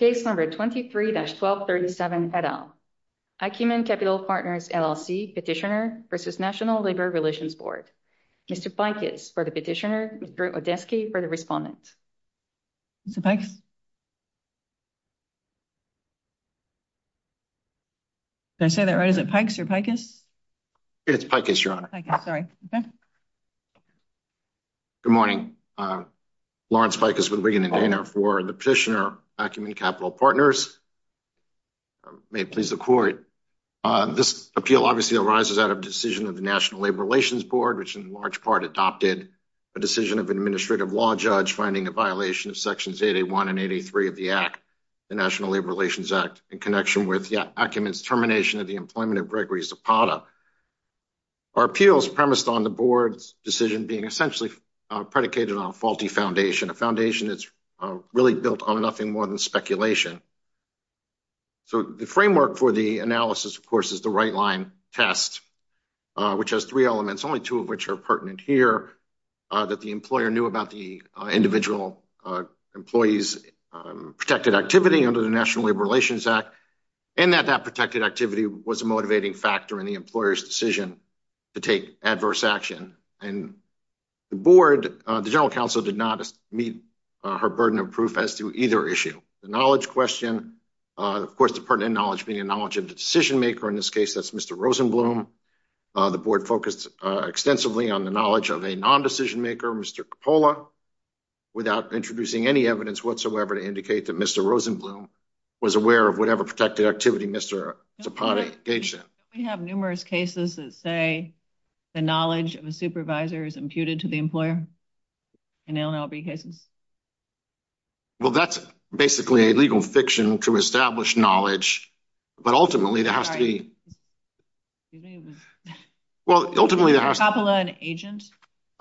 Case number 23-1237 et al. Acumen Capital Partners, LLC Petitioner v. National Labor Relations Board. Mr. Pikus for the petitioner, Mr. Odetsky for the respondent. Mr. Pikus? Did I say that right? Is it Pikes or Pikus? It's Pikus, Your Honor. Pikus, sorry. Okay. Good morning. Lawrence Pikus with Wigan & Dana for the petitioner, Acumen Capital Partners. May it please the court. This appeal obviously arises out of a decision of the National Labor Relations Board, which in large part adopted a decision of an administrative law judge finding a violation of sections 8A1 and 8A3 of the Act, the National Labor Relations Act, in connection with Acumen's termination of the employment of Gregory Zapata. Our appeals premised on the board's decision being essentially predicated on a faulty foundation, a foundation that's really built on nothing more than speculation. So the framework for the analysis, of course, is the right-line test, which has three elements, only two of which are pertinent here, that the employer knew about the individual employee's protected activity under the National Labor Relations Act, and that that protected activity was a motivating factor in the employer's decision to take adverse action. And the board, the general counsel, did not meet her burden of proof as to either issue. The knowledge question, of course, the pertinent knowledge being a knowledge of the decision maker, in this case, that's Mr. Rosenblum. The board focused extensively on the knowledge of a non-decision maker, Mr. Coppola, without introducing any evidence whatsoever to indicate that Mr. Rosenblum was aware of whatever protected activity Mr. Zapata engaged in. We have numerous cases that say the knowledge of a supervisor is imputed to the employer in L&LB cases. Well, that's basically a legal fiction to establish knowledge, but ultimately there has to be... I'm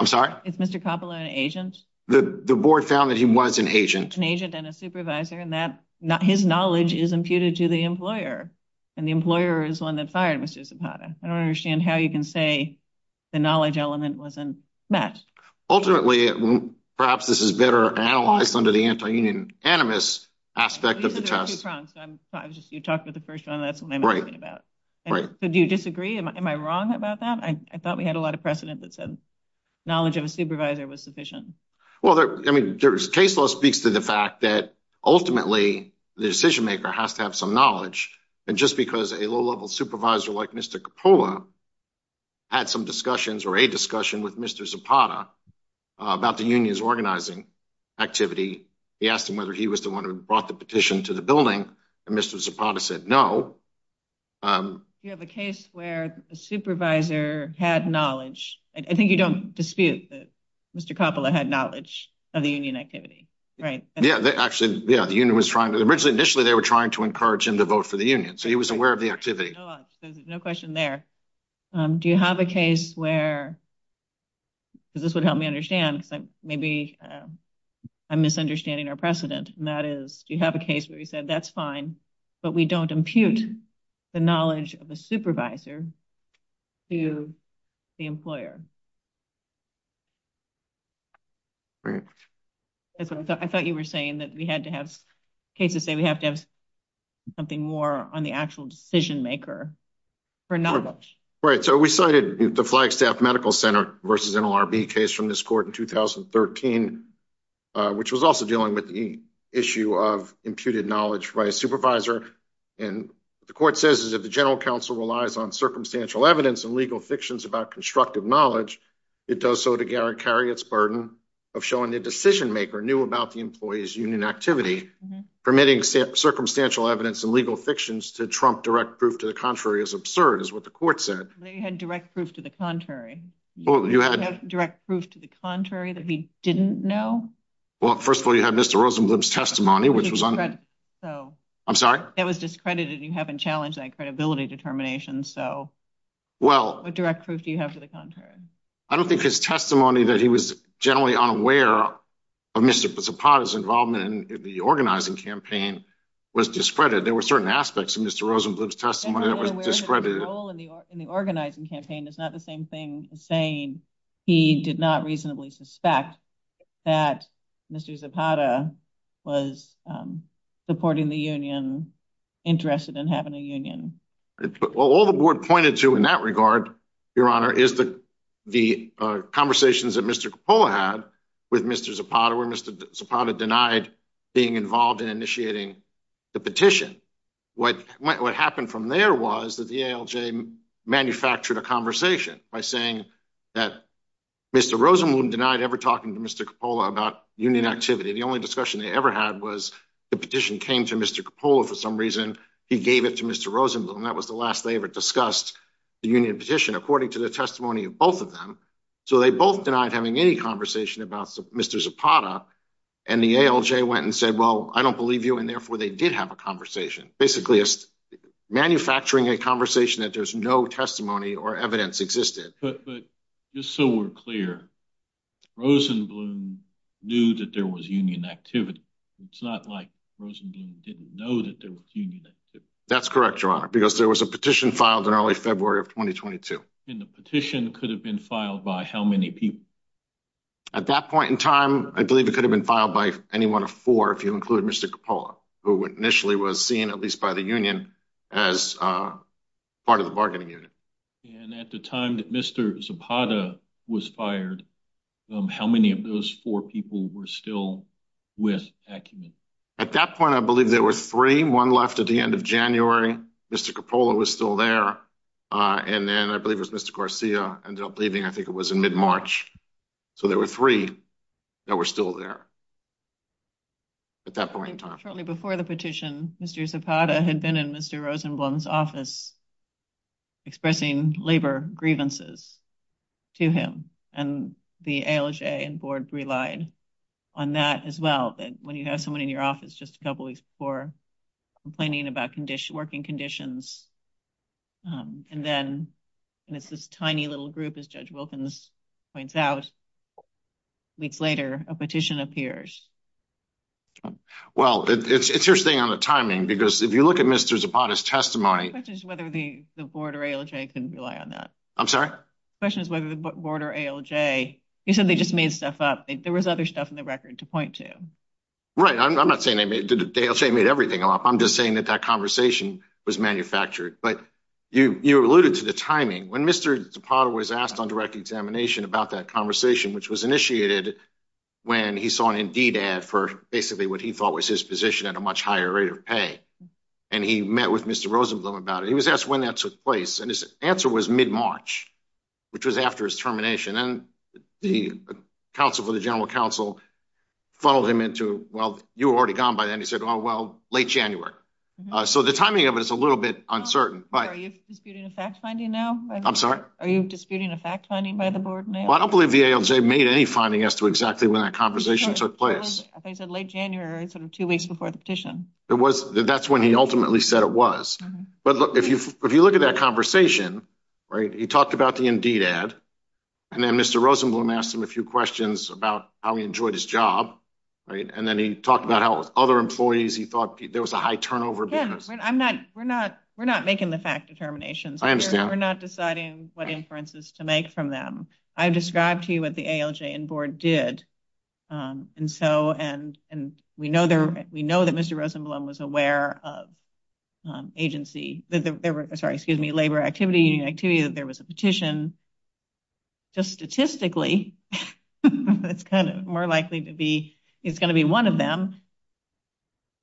sorry? Is Mr. Coppola an agent? The board found that he was an agent. An agent and a supervisor, and that his knowledge is imputed to the employer, and the employer is the one that fired Mr. Zapata. I don't understand how you can say the knowledge element wasn't met. Ultimately, perhaps this is better analyzed under the anti-anonymous aspect of the test. You said there were two fronts, so you talked about the first one, and that's what I'm asking about. Right. So do you disagree? Am I wrong about that? I thought we had a lot of precedent that said knowledge of a supervisor was sufficient. Well, I mean, case law speaks to the fact that ultimately the decision maker has to have some knowledge, and just because a low-level supervisor like Mr. Coppola had some discussions or a discussion with Mr. Zapata about the union's organizing activity, he asked him whether he was the one who brought the petition to the building, and Mr. Zapata said no. Do you have a case where a supervisor had knowledge? I think you don't dispute that Mr. Coppola had knowledge of the union activity, right? Yeah, actually, yeah, the union was trying to—originally, initially, they were trying to encourage him to vote for the union, so he was aware of the activity. No question there. Do you have a case where, because this would help me understand, because maybe I'm misunderstanding our precedent, and that is, you have a case where you said that's fine, but we don't impute the knowledge of a supervisor to the employer? I thought you were saying that we had to have—cases say we have to have something more on the actual decision maker for knowledge. Right, so we cited the Flagstaff Medical Center versus NLRB case from this court in 2013, which was also dealing with the issue of imputed knowledge by a supervisor, and the court says is if the general counsel relies on circumstantial evidence and legal fictions about constructive knowledge, it does so to carry its burden of showing the decision maker knew about the employee's union activity, permitting circumstantial evidence and legal fictions to trump direct proof to the contrary is absurd, is what the court said. They had direct proof to the contrary. You had— Direct proof to the contrary that he didn't know? Well, first of all, you had Mr. Rosenblum's testimony, which was— I'm sorry? That was discredited. You haven't challenged that credibility determination, so— Well— What direct proof do you have to the contrary? I don't think his testimony that he was generally unaware of Mr. Zapata's involvement in the organizing campaign was discredited. There were certain aspects of Mr. Rosenblum's testimony that was discredited. In the organizing campaign, it's not the same thing as saying he did not reasonably suspect that Mr. Zapata was supporting the union, interested in having a union. All the board pointed to in that regard, Your Honor, is the conversations that Mr. Coppola had with Mr. Zapata, where Mr. Zapata denied being involved in initiating the petition. What happened from there was that the ALJ manufactured a conversation by saying that Mr. Rosenblum denied ever talking to Mr. Coppola about union activity. The only discussion they ever had was the petition came to Mr. Coppola for some reason, he gave it to Mr. Rosenblum. That was the last they ever discussed the union petition, according to the testimony of both of them. So they both denied having any conversation about Mr. Zapata, and the ALJ went and said, I don't believe you, and therefore they did have a conversation. Basically, manufacturing a conversation that there's no testimony or evidence existed. But just so we're clear, Rosenblum knew that there was union activity. It's not like Rosenblum didn't know that there was union activity. That's correct, Your Honor, because there was a petition filed in early February of 2022. And the petition could have been filed by how many people? At that point in time, I believe it could have been filed by any one of four, if you include Mr. Coppola, who initially was seen, at least by the union, as part of the bargaining unit. And at the time that Mr. Zapata was fired, how many of those four people were still with Acumen? At that point, I believe there were three, one left at the end of January. Mr. Coppola was still there. And then I believe it was Mr. Garcia ended up leaving, I think it was in mid-March. So there were three that were still there at that point in time. Shortly before the petition, Mr. Zapata had been in Mr. Rosenblum's office expressing labor grievances to him. And the ALJ and board relied on that as well, that when you have someone in your office just a couple weeks before complaining about working conditions, and then it's this tiny little group, as Judge Wilkins points out, weeks later, a petition appears. Well, it's interesting on the timing, because if you look at Mr. Zapata's testimony... The question is whether the board or ALJ can rely on that. I'm sorry? The question is whether the board or ALJ... You said they just made stuff up. There was other stuff in the record to point to. Right. I'm not saying that ALJ made everything up. I'm just saying that that conversation was manufactured. But you alluded to the timing. When Mr. Zapata was asked on direct examination about that conversation, which was initiated when he saw an Indeed ad for basically what he thought was his position at a much higher rate of pay. And he met with Mr. Rosenblum about it. He was asked when that took place. And his answer was mid-March, which was after his termination. And the counsel for the general counsel funneled him into... Well, you were already gone by then. Oh, well, late January. So the timing of it is a little bit uncertain, but... Are you disputing a fact-finding now? I'm sorry? Are you disputing a fact-finding by the board now? I don't believe the ALJ made any finding as to exactly when that conversation took place. Late January, two weeks before the petition. That's when he ultimately said it was. But if you look at that conversation, he talked about the Indeed ad. And then Mr. Rosenblum asked him a few questions about how he enjoyed his job. And then he talked about how with other employees, he thought there was a high turnover. We're not making the fact determinations. We're not deciding what inferences to make from them. I've described to you what the ALJ and board did. We know that Mr. Rosenblum was aware of labor activity, union activity, that there was a That's kind of more likely to be. It's going to be one of them.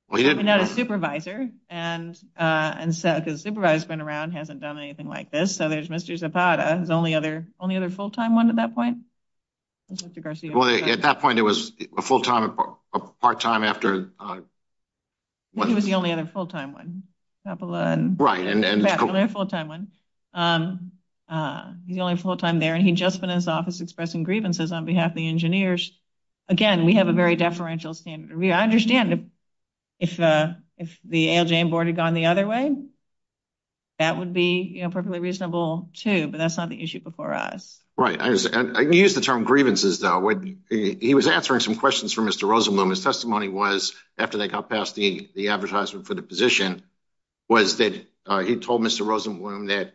Well, he didn't have a supervisor. And and so because the supervisor's been around, hasn't done anything like this. So there's Mr. Zapata. His only other only other full-time one at that point. Well, at that point, it was a full-time, part-time after. He was the only other full-time one. Right. He's the only full-time there. He'd just been in his office expressing grievances on behalf of the engineers. Again, we have a very deferential standard. I understand if the ALJ and board had gone the other way. That would be perfectly reasonable, too. But that's not the issue before us. Right. I use the term grievances, though. He was answering some questions for Mr. Rosenblum. His testimony was, after they got past the advertisement for the position, was that he told Mr. Rosenblum that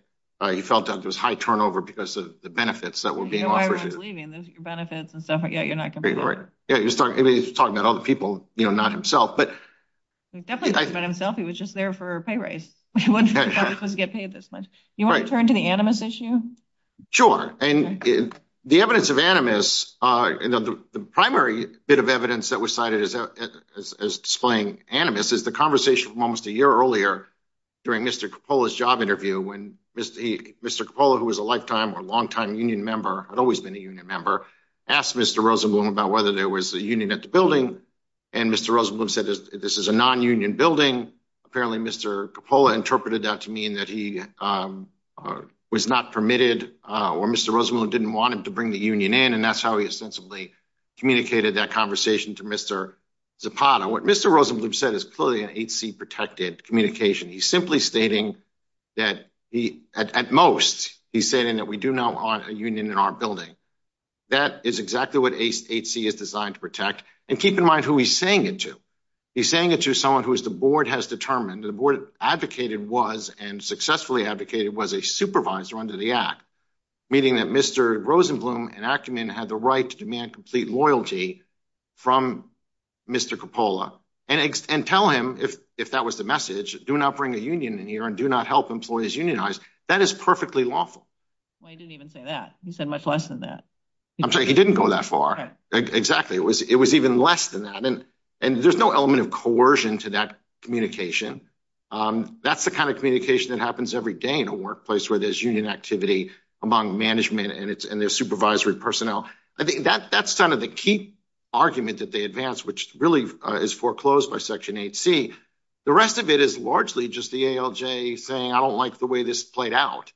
he felt that there was high turnover because of the benefits that were being offered. You know why everyone's leaving. Those are your benefits and stuff. Yeah, you're not going to be there. Yeah, he was talking about other people, you know, not himself. But definitely not himself. He was just there for a pay raise. He wasn't supposed to get paid this much. You want to turn to the Animus issue? Sure. And the evidence of Animus, the primary bit of evidence that was cited as displaying Animus is the conversation from almost a year earlier during Mr. Coppola's job interview when Mr. Coppola, who was a lifetime or longtime union member, had always been a union member, asked Mr. Rosenblum about whether there was a union at the building. And Mr. Rosenblum said, this is a non-union building. Apparently, Mr. Coppola interpreted that to mean that he was not permitted or Mr. Rosenblum didn't want him to bring the union in. And that's how he ostensibly communicated that conversation to Mr. Zapata. What Mr. Rosenblum said is clearly an HC protected communication. He's simply stating that, at most, he's saying that we do not want a union in our building. That is exactly what HC is designed to protect. And keep in mind who he's saying it to. He's saying it to someone who the board has determined, the board advocated was, and successfully advocated, was a supervisor under the Act, meaning that Mr. Rosenblum and Ackerman had the right to demand complete loyalty from Mr. Coppola and tell him, if that was the message, do not bring a union in here and do not help employees unionize. That is perfectly lawful. Well, he didn't even say that. He said much less than that. I'm sorry, he didn't go that far. Exactly. It was even less than that. And there's no element of coercion to that communication. That's the kind of communication that happens every day in a workplace where there's union activity among management and their supervisory personnel. I think that's kind of the key argument that they advance, which really is foreclosed by Section 8C. The rest of it is largely just the ALJ saying, I don't like the way this played out.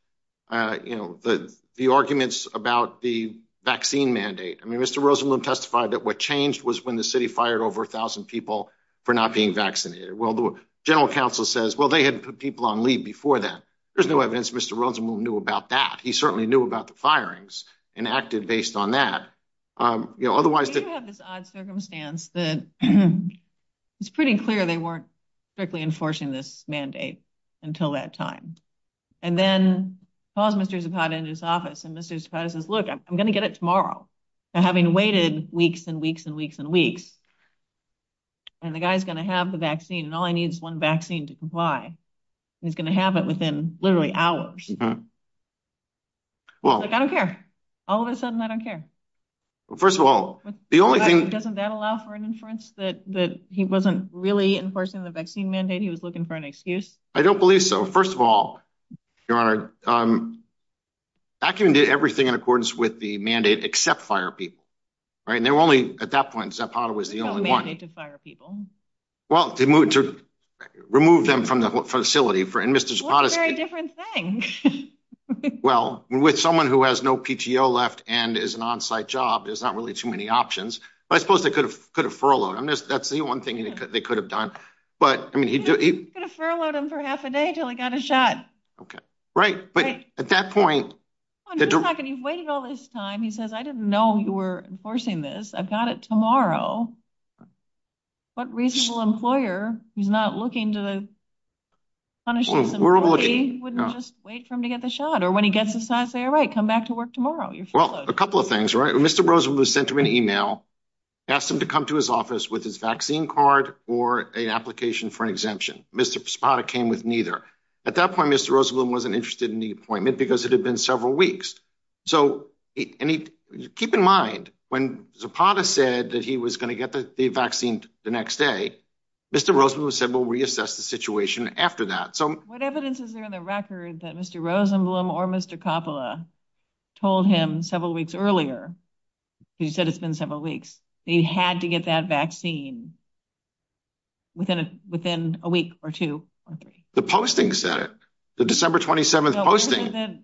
You know, the arguments about the vaccine mandate. I mean, Mr. Rosenblum testified that what changed was when the city fired over 1,000 people for not being vaccinated. Well, the general counsel says, well, they had put people on leave before that. There's no evidence Mr. Rosenblum knew about that. He certainly knew about the firings and acted based on that. You know, otherwise, you have this odd circumstance that it's pretty clear they weren't strictly enforcing this mandate until that time. And then Mr. Zapata in his office and Mr. Zapata says, look, I'm going to get it tomorrow. And having waited weeks and weeks and weeks and weeks, and the guy's going to have the vaccine and all he needs one vaccine to comply. He's going to have it within literally hours. Well, I don't care. All of a sudden, I don't care. Well, first of all, the only thing... Doesn't that allow for an inference that he wasn't really enforcing the vaccine mandate? He was looking for an excuse? I don't believe so. First of all, Your Honor, Acumen did everything in accordance with the mandate except fire people, right? And they were only, at that point, Zapata was the only one. No mandate to fire people. Well, to remove them from the facility. And Mr. Zapata... Well, it's a very different thing. Well, with someone who has no PTO left and is an on-site job, there's not really too many options. But I suppose they could have could have furloughed him. That's the one thing they could have done. But I mean... He could have furloughed him for half a day till he got a shot. Okay. Right. But at that point... You've waited all this time. He says, I didn't know you were enforcing this. I've got it tomorrow. What reasonable employer who's not looking to punish this employee wouldn't just wait for him to get the shot? Or when he gets the shot, say, all right, come back to work tomorrow. Well, a couple of things, right? Mr. Rosenblum sent him an email, asked him to come to his office with his vaccine card or an application for an exemption. Mr. Zapata came with neither. At that point, Mr. Rosenblum wasn't interested in the appointment because it had been several weeks. So keep in mind, when Zapata said that he was going to get the vaccine the next day, Mr. Rosenblum said, we'll reassess the situation after that. What evidence is there in the record that Mr. Rosenblum or Mr. Coppola told him several weeks earlier? Because you said it's been several weeks. He had to get that vaccine within a week or two or three. The posting said it. The December 27th posting.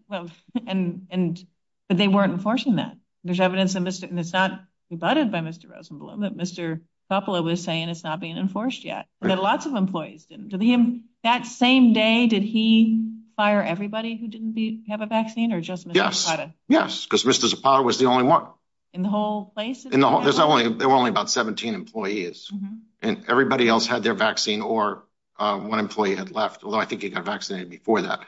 But they weren't enforcing that. There's evidence that it's not rebutted by Mr. Rosenblum, that Mr. Coppola was saying it's not being enforced yet. That lots of employees didn't. That same day, did he fire everybody who didn't have a vaccine or just Mr. Zapata? Yes, because Mr. Zapata was the only one. In the whole place? There were only about 17 employees. And everybody else had their vaccine or one employee had left, although I think he got vaccinated before that.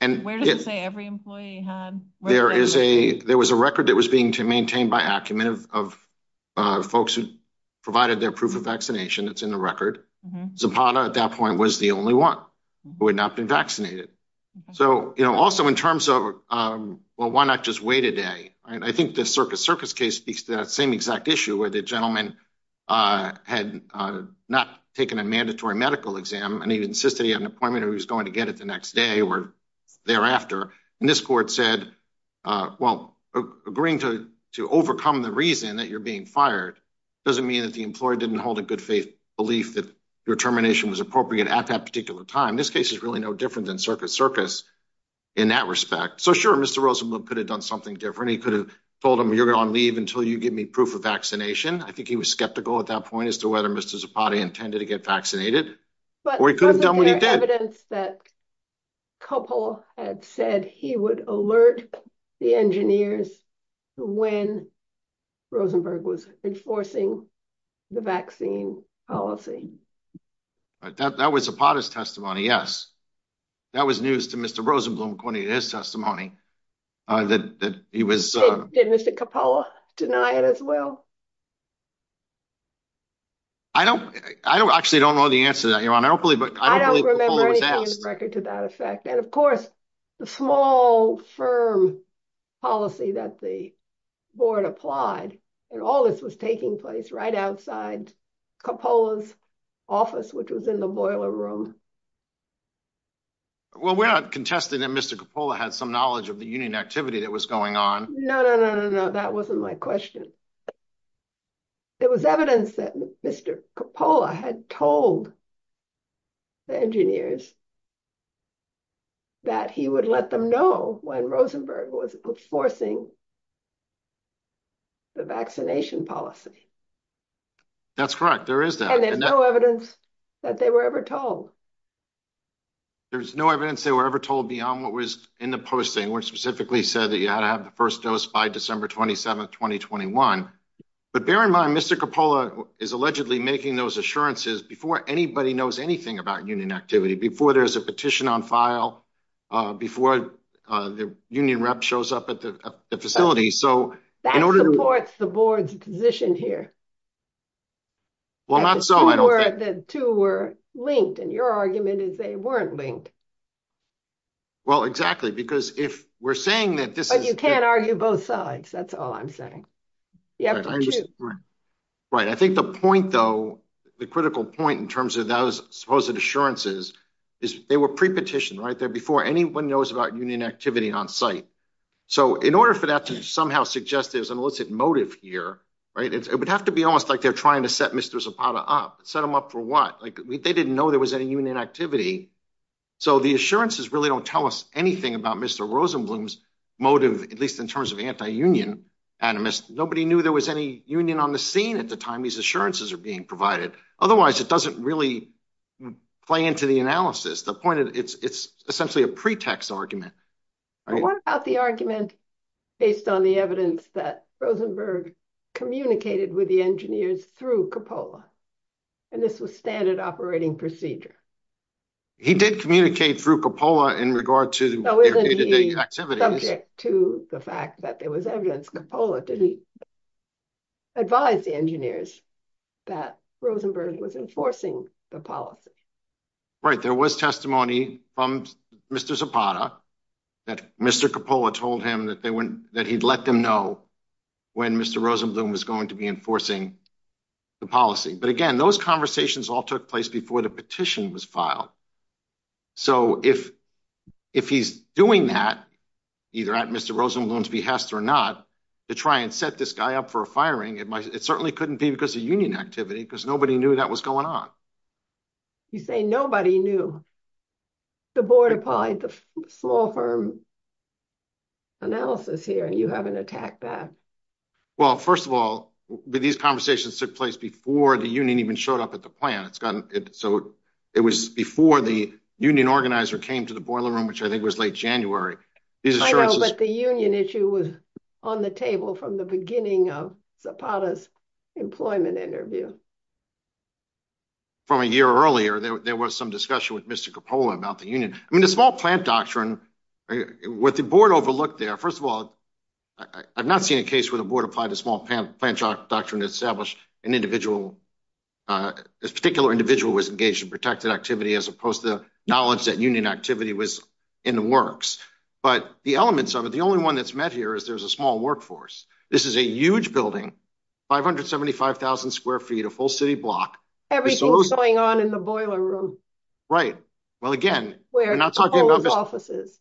Where does it say every employee had? There was a record that was being maintained by acumen of folks who provided their proof of vaccination. It's in the record. Zapata, at that point, was the only one who had not been vaccinated. So, you know, also in terms of, well, why not just wait a day? I think the Circus Circus case speaks to that same exact issue where the gentleman had not taken a mandatory medical exam and he insisted he had an appointment. He was going to get it the next day or thereafter. And this court said, well, agreeing to overcome the reason that you're being fired doesn't mean that the employee didn't hold a good faith belief that your termination was appropriate at that particular time. This case is really no different than Circus Circus in that respect. So, sure, Mr. Rosenblum could have done something different. He could have told him you're on leave until you give me proof of vaccination. I think he was skeptical at that point as to whether Mr. Zapata intended to get vaccinated. But we could have done what he did. Evidence that Coppola had said he would alert the engineers when Rosenberg was enforcing the vaccine policy. That was Zapata's testimony, yes. That was news to Mr. Rosenblum, according to his testimony, that he was. Did Mr. Coppola deny it as well? I don't, I actually don't know the answer to that, Your Honor. I don't believe, I don't believe Coppola was asked. Record to that effect. And of course, the small firm policy that the board applied, and all this was taking place right outside Coppola's office, which was in the boiler room. Well, we're not contesting that Mr. Coppola had some knowledge of the union activity that was going on. No, no, no, no, no. That wasn't my question. It was evidence that Mr. Coppola had told the engineers that he would let them know when Rosenberg was enforcing the vaccination policy. That's correct, there is that. And there's no evidence that they were ever told. There's no evidence they were ever told beyond what was in the posting, specifically said that you had to have the first dose by December 27th, 2021. But bear in mind, Mr. Coppola is allegedly making those assurances before anybody knows anything about union activity, before there's a petition on file, before the union rep shows up at the facility. So, that supports the board's position here. Well, not so, I don't think. The two were linked, and your argument is they weren't linked. Well, exactly, because if we're saying that this is- But you can't argue both sides, that's all I'm saying. You have to choose. Right, I think the point though, the critical point in terms of those supposed assurances, is they were pre-petitioned right there before anyone knows about union activity on site. So, in order for that to somehow suggest there's an illicit motive here, right, it would have to be almost like they're trying to set Mr. Zapata up. Set him up for what? Like, they didn't know there was any union activity. So, the assurances really don't tell us anything about Mr. Rosenblum's motive, at least in terms of anti-union animus. Nobody knew there was any union on the scene at the time these assurances are being provided. Otherwise, it doesn't really play into the analysis. The point is, it's essentially a pretext argument. What about the argument based on the evidence that Rosenberg communicated with the engineers through Coppola, and this was standard operating procedure? He did communicate through Coppola in regard to their day-to-day activities. So, isn't he subject to the fact that there was evidence Coppola didn't advise the engineers that Rosenberg was enforcing the policy? Right, there was testimony from Mr. Zapata that Mr. Coppola told him that he'd let them know when Mr. Rosenblum was going to be enforcing the policy. But again, those conversations all took place before the petition was filed. So, if he's doing that, either at Mr. Rosenblum's behest or not, to try and set this guy up for a firing, it certainly couldn't be because of union activity, because nobody knew that was going on. You say nobody knew. The board applied the small firm analysis here, and you haven't attacked that. Well, first of all, these conversations took place before the union even showed up at the union organizer came to the boiler room, which I think was late January. I know, but the union issue was on the table from the beginning of Zapata's employment interview. From a year earlier, there was some discussion with Mr. Coppola about the union. I mean, the small plant doctrine, what the board overlooked there, first of all, I've not seen a case where the board applied the small plant doctrine to establish an individual, a particular individual who was engaged in protected activity, as opposed to knowledge that union activity was in the works. But the elements of it, the only one that's met here is there's a small workforce. This is a huge building, 575,000 square feet, a full city block. Everything's going on in the boiler room. Right. Well, again, we're not talking about this. Where Coppola's office is.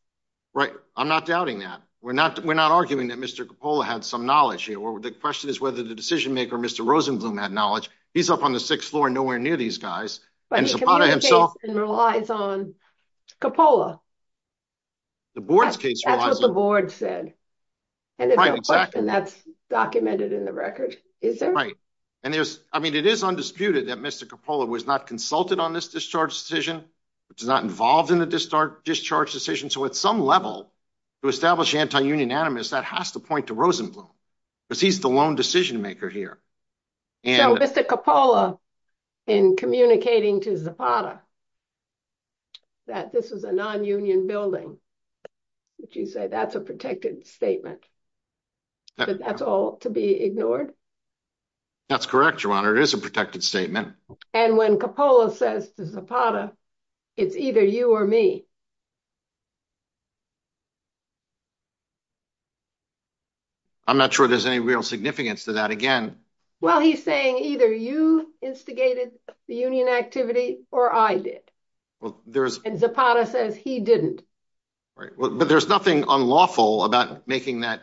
Right. I'm not doubting that. We're not arguing that Mr. Coppola had some knowledge here. The question is whether the decision-maker, Mr. Rosenblum, had knowledge. He's up on the sixth floor, nowhere near these guys. But the community case relies on Coppola. The board's case relies on— That's what the board said. Right, exactly. And if there's a question, that's documented in the record, is there? Right. And there's, I mean, it is undisputed that Mr. Coppola was not consulted on this discharge decision, was not involved in the discharge decision. So at some level, to establish anti-union animus, that has to point to Rosenblum. Because he's the lone decision-maker here. So Mr. Coppola, in communicating to Zapata that this is a non-union building, would you say that's a protected statement? That that's all to be ignored? That's correct, Your Honor. It is a protected statement. And when Coppola says to Zapata, it's either you or me? I'm not sure there's any real significance to that. Again— Well, he's saying either you instigated the union activity or I did. Well, there's— And Zapata says he didn't. Right, but there's nothing unlawful about making that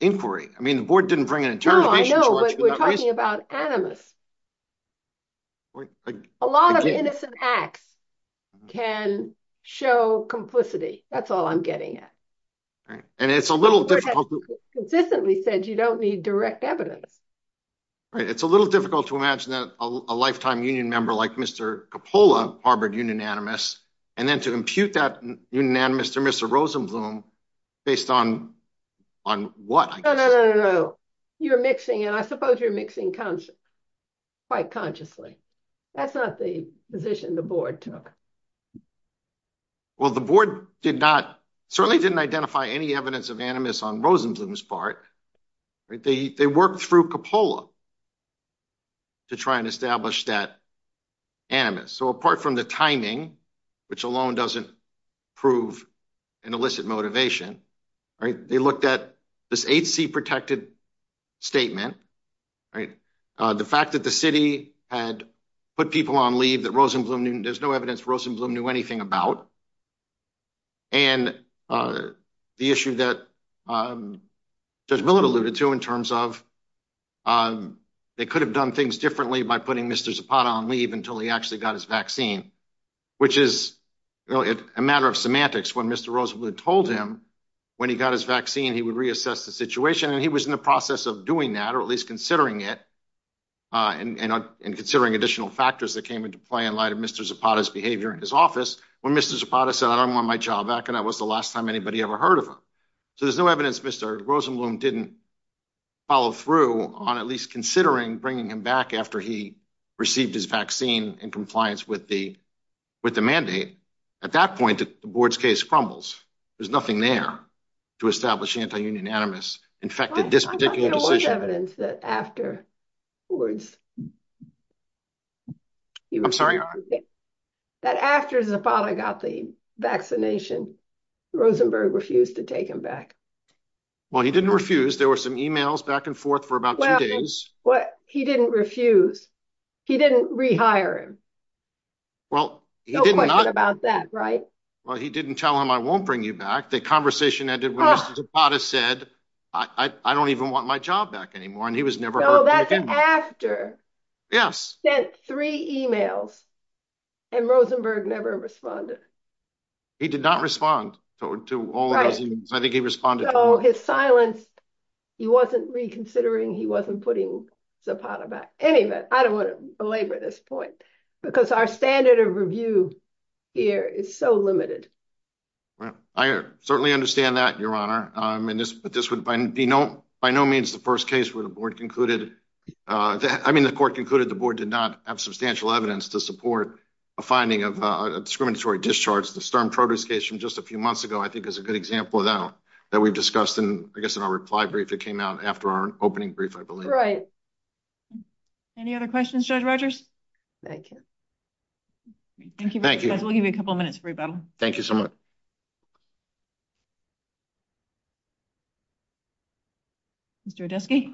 inquiry. I mean, the board didn't bring an interrogation charge— No, I know, but we're talking about animus. A lot of innocent acts can show that there's a discharge decision. Complicity, that's all I'm getting at. And it's a little difficult— Consistently said you don't need direct evidence. It's a little difficult to imagine that a lifetime union member like Mr. Coppola harbored union animus, and then to impute that unanimous to Mr. Rosenblum based on what? No, no, no, no, no. You're mixing, and I suppose you're mixing quite consciously. That's not the position the board took. Well, the board did not— Certainly didn't identify any evidence of animus on Rosenblum's part. They worked through Coppola to try and establish that animus. So apart from the timing, which alone doesn't prove an illicit motivation, they looked at this HC protected statement, the fact that the city had put people on leave, that Rosenblum— There's no evidence Rosenblum knew anything about. And the issue that Judge Millard alluded to in terms of they could have done things differently by putting Mr. Zapata on leave until he actually got his vaccine, which is a matter of semantics. When Mr. Rosenblum told him when he got his vaccine, he would reassess the situation, and he was in the process of doing that, or at least considering it, and considering additional factors that came into play in light of Mr. Zapata's behavior in his office when Mr. Zapata said, I don't want my child back, and that was the last time anybody ever heard of him. So there's no evidence Mr. Rosenblum didn't follow through on at least considering bringing him back after he received his vaccine in compliance with the mandate. At that point, the board's case crumbles. There's nothing there to establish anti-union animus infected this particular decision. There's no evidence that afterwards, that after Zapata got the vaccination, Rosenblum refused to take him back. Well, he didn't refuse. There were some emails back and forth for about two days. Well, he didn't refuse. He didn't rehire him. Well, he didn't. No question about that, right? Well, he didn't tell him, I won't bring you back. The conversation ended when Mr. Zapata said, I don't even want my job back anymore, and he was never heard from again. No, that's after he sent three emails and Rosenblum never responded. He did not respond to all of those emails. I think he responded to all. So his silence, he wasn't reconsidering. He wasn't putting Zapata back. Anyway, I don't want to belabor this point because our standard of review here is so limited. Well, I certainly understand that, Your Honor, but this would be by no means the first case where the court concluded the board did not have substantial evidence to support a finding of a discriminatory discharge. The Sturm-Trotter case from just a few months ago, I think, is a good example of that that we've discussed. And I guess in our reply brief, it came out after our opening brief, I believe. Any other questions, Judge Rogers? Thank you. Thank you. We'll give you a couple of minutes for rebuttal. Thank you so much. Mr. Odeski. Good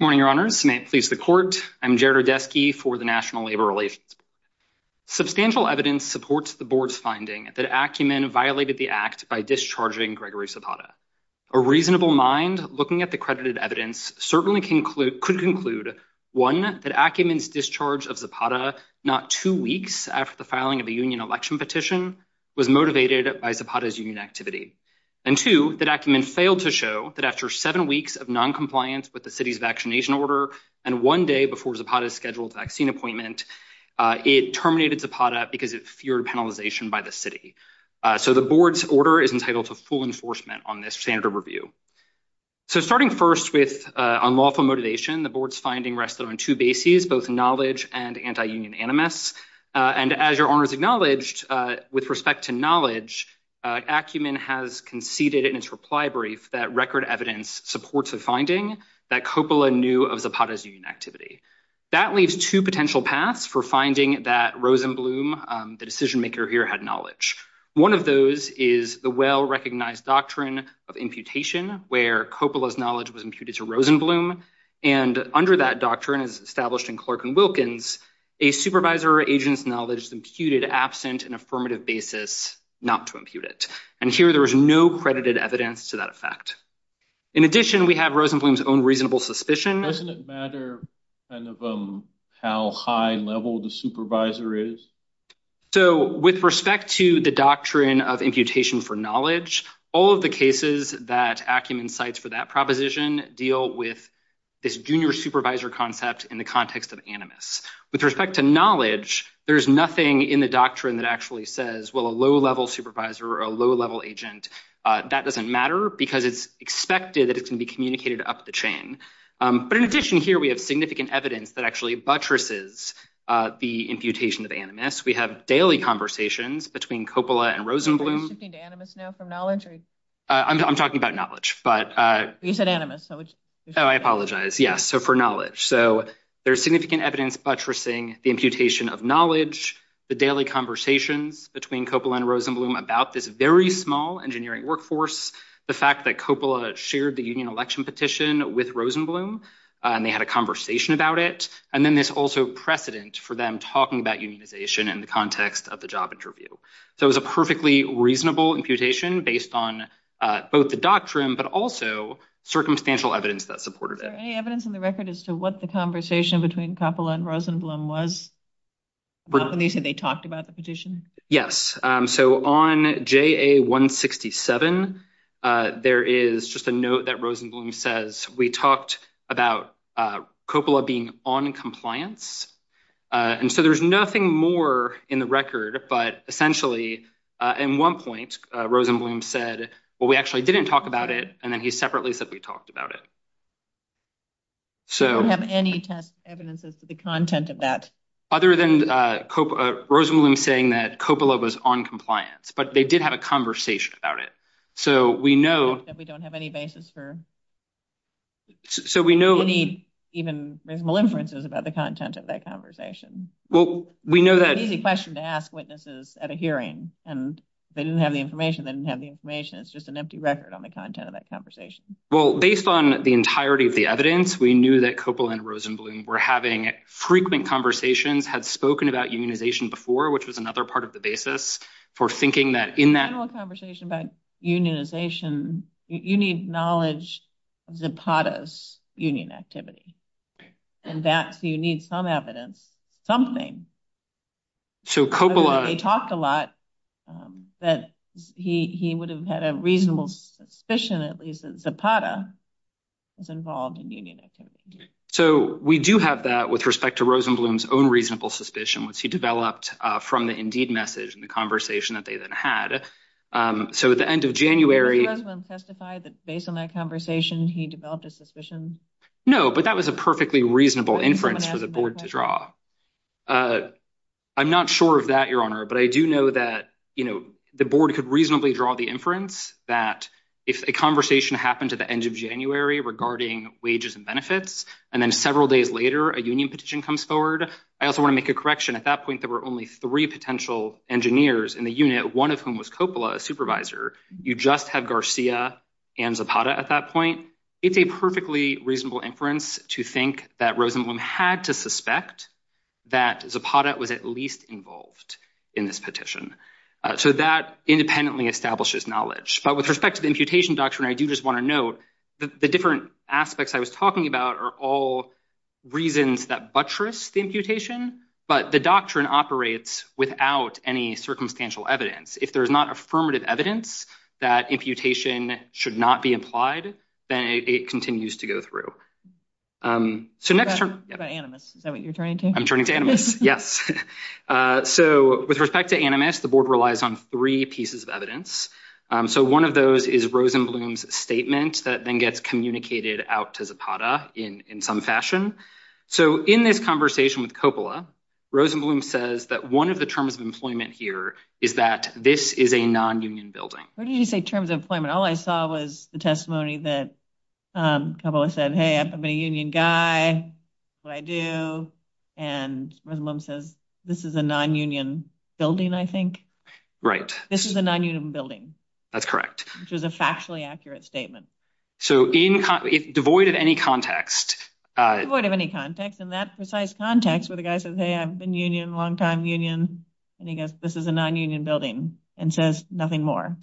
morning, Your Honors. May it please the court. I'm Jared Odeski for the National Labor Relations Board. Substantial evidence supports the board's finding that Acumen violated the act by discharging Gregory Zapata. A reasonable mind looking at the credited evidence certainly could conclude, one, that Acumen's discharge of Zapata not two weeks after the filing of a union election petition was motivated by Zapata's union activity. And two, that Acumen failed to show that after seven weeks of noncompliance with the city's vaccination order and one day before Zapata's scheduled vaccine appointment, it terminated Zapata because it feared penalization by the city. So the board's order is entitled to full enforcement on this standard review. So starting first with unlawful motivation, the board's finding rested on two bases, both knowledge and anti-union animus. And as Your Honors acknowledged, with respect to knowledge, Acumen has conceded in its reply brief that record evidence supports the finding that Coppola knew of Zapata's union activity. That leaves two potential paths for finding that Rosenblum, the decision maker here, had One of those is the well-recognized doctrine of imputation, where Coppola's knowledge was imputed to Rosenblum. And under that doctrine, as established in Clark and Wilkins, a supervisor or agent's knowledge is imputed absent an affirmative basis not to impute it. And here there is no credited evidence to that effect. In addition, we have Rosenblum's own reasonable suspicion. Doesn't it matter kind of how high level the supervisor is? So with respect to the doctrine of imputation for knowledge, all of the cases that Acumen cites for that proposition deal with this junior supervisor concept in the context of animus. With respect to knowledge, there's nothing in the doctrine that actually says, well, a low-level supervisor or a low-level agent, that doesn't matter because it's expected that it can be communicated up the chain. But in addition here, we have significant evidence that actually buttresses the imputation of animus. We have daily conversations between Coppola and Rosenblum. Are you shifting to animus now from knowledge? I'm talking about knowledge. You said animus. Oh, I apologize. Yes, so for knowledge. So there's significant evidence buttressing the imputation of knowledge, the daily conversations between Coppola and Rosenblum about this very small engineering workforce, the fact that Coppola shared the union election petition with Rosenblum, and they had a conversation about it. And then there's also precedent for them talking about unionization in the context of the job interview. So it was a perfectly reasonable imputation based on both the doctrine, but also circumstantial evidence that supported it. Is there any evidence in the record as to what the conversation between Coppola and Rosenblum was? When you said they talked about the petition? Yes, so on JA-167, there is just a note that Rosenblum says, we talked about Coppola being on compliance. And so there's nothing more in the record. But essentially, in one point, Rosenblum said, well, we actually didn't talk about it. And then he separately said we talked about it. So we don't have any test evidence as to the content of that. Other than Rosenblum saying that Coppola was on compliance, but they did have a conversation about it. So we know that we don't have any basis for any even reasonable inferences about the content of that conversation. Well, we know that it's an easy question to ask witnesses at a hearing. And they didn't have the information. They didn't have the information. It's just an empty record on the content of that conversation. Well, based on the entirety of the evidence, we knew that Coppola and Rosenblum were having frequent conversations, had spoken about unionization before, which was another part of the You need knowledge of Zapata's union activity. And that's you need some evidence, something. So Coppola talked a lot that he would have had a reasonable suspicion, at least, that Zapata was involved in union activity. So we do have that with respect to Rosenblum's own reasonable suspicion, which he developed from the Indeed message and the conversation that they then had. So at the end of January, Did Mr. Rosenblum testify that based on that conversation, he developed a suspicion? No, but that was a perfectly reasonable inference for the board to draw. I'm not sure of that, Your Honor. But I do know that the board could reasonably draw the inference that if a conversation happened at the end of January regarding wages and benefits, and then several days later, a union petition comes forward. I also want to make a correction. At that point, there were only three potential engineers in the unit, one of whom was Coppola, a supervisor. You just have Garcia and Zapata at that point. It's a perfectly reasonable inference to think that Rosenblum had to suspect that Zapata was at least involved in this petition. So that independently establishes knowledge. But with respect to the imputation doctrine, I do just want to note that the different aspects I was talking about are all reasons that buttress the imputation. But the doctrine operates without any circumstantial evidence. If there is not affirmative evidence that imputation should not be implied, then it continues to go through. So next turn. Is that what you're turning to? I'm turning to Animus. Yes. So with respect to Animus, the board relies on three pieces of evidence. So one of those is Rosenblum's statement that then gets communicated out to Zapata in some fashion. So in this conversation with Coppola, Rosenblum says that one of the terms of employment here is that this is a non-union building. Where did you say terms of employment? All I saw was the testimony that Coppola said, hey, I've been a union guy, what I do. And Rosenblum says, this is a non-union building, I think. Right. This is a non-union building. That's correct. Which is a factually accurate statement. So devoid of any context. Devoid of any context. In that precise context where the guy says, hey, I've been union, long time union, and this is a non-union building and says nothing more.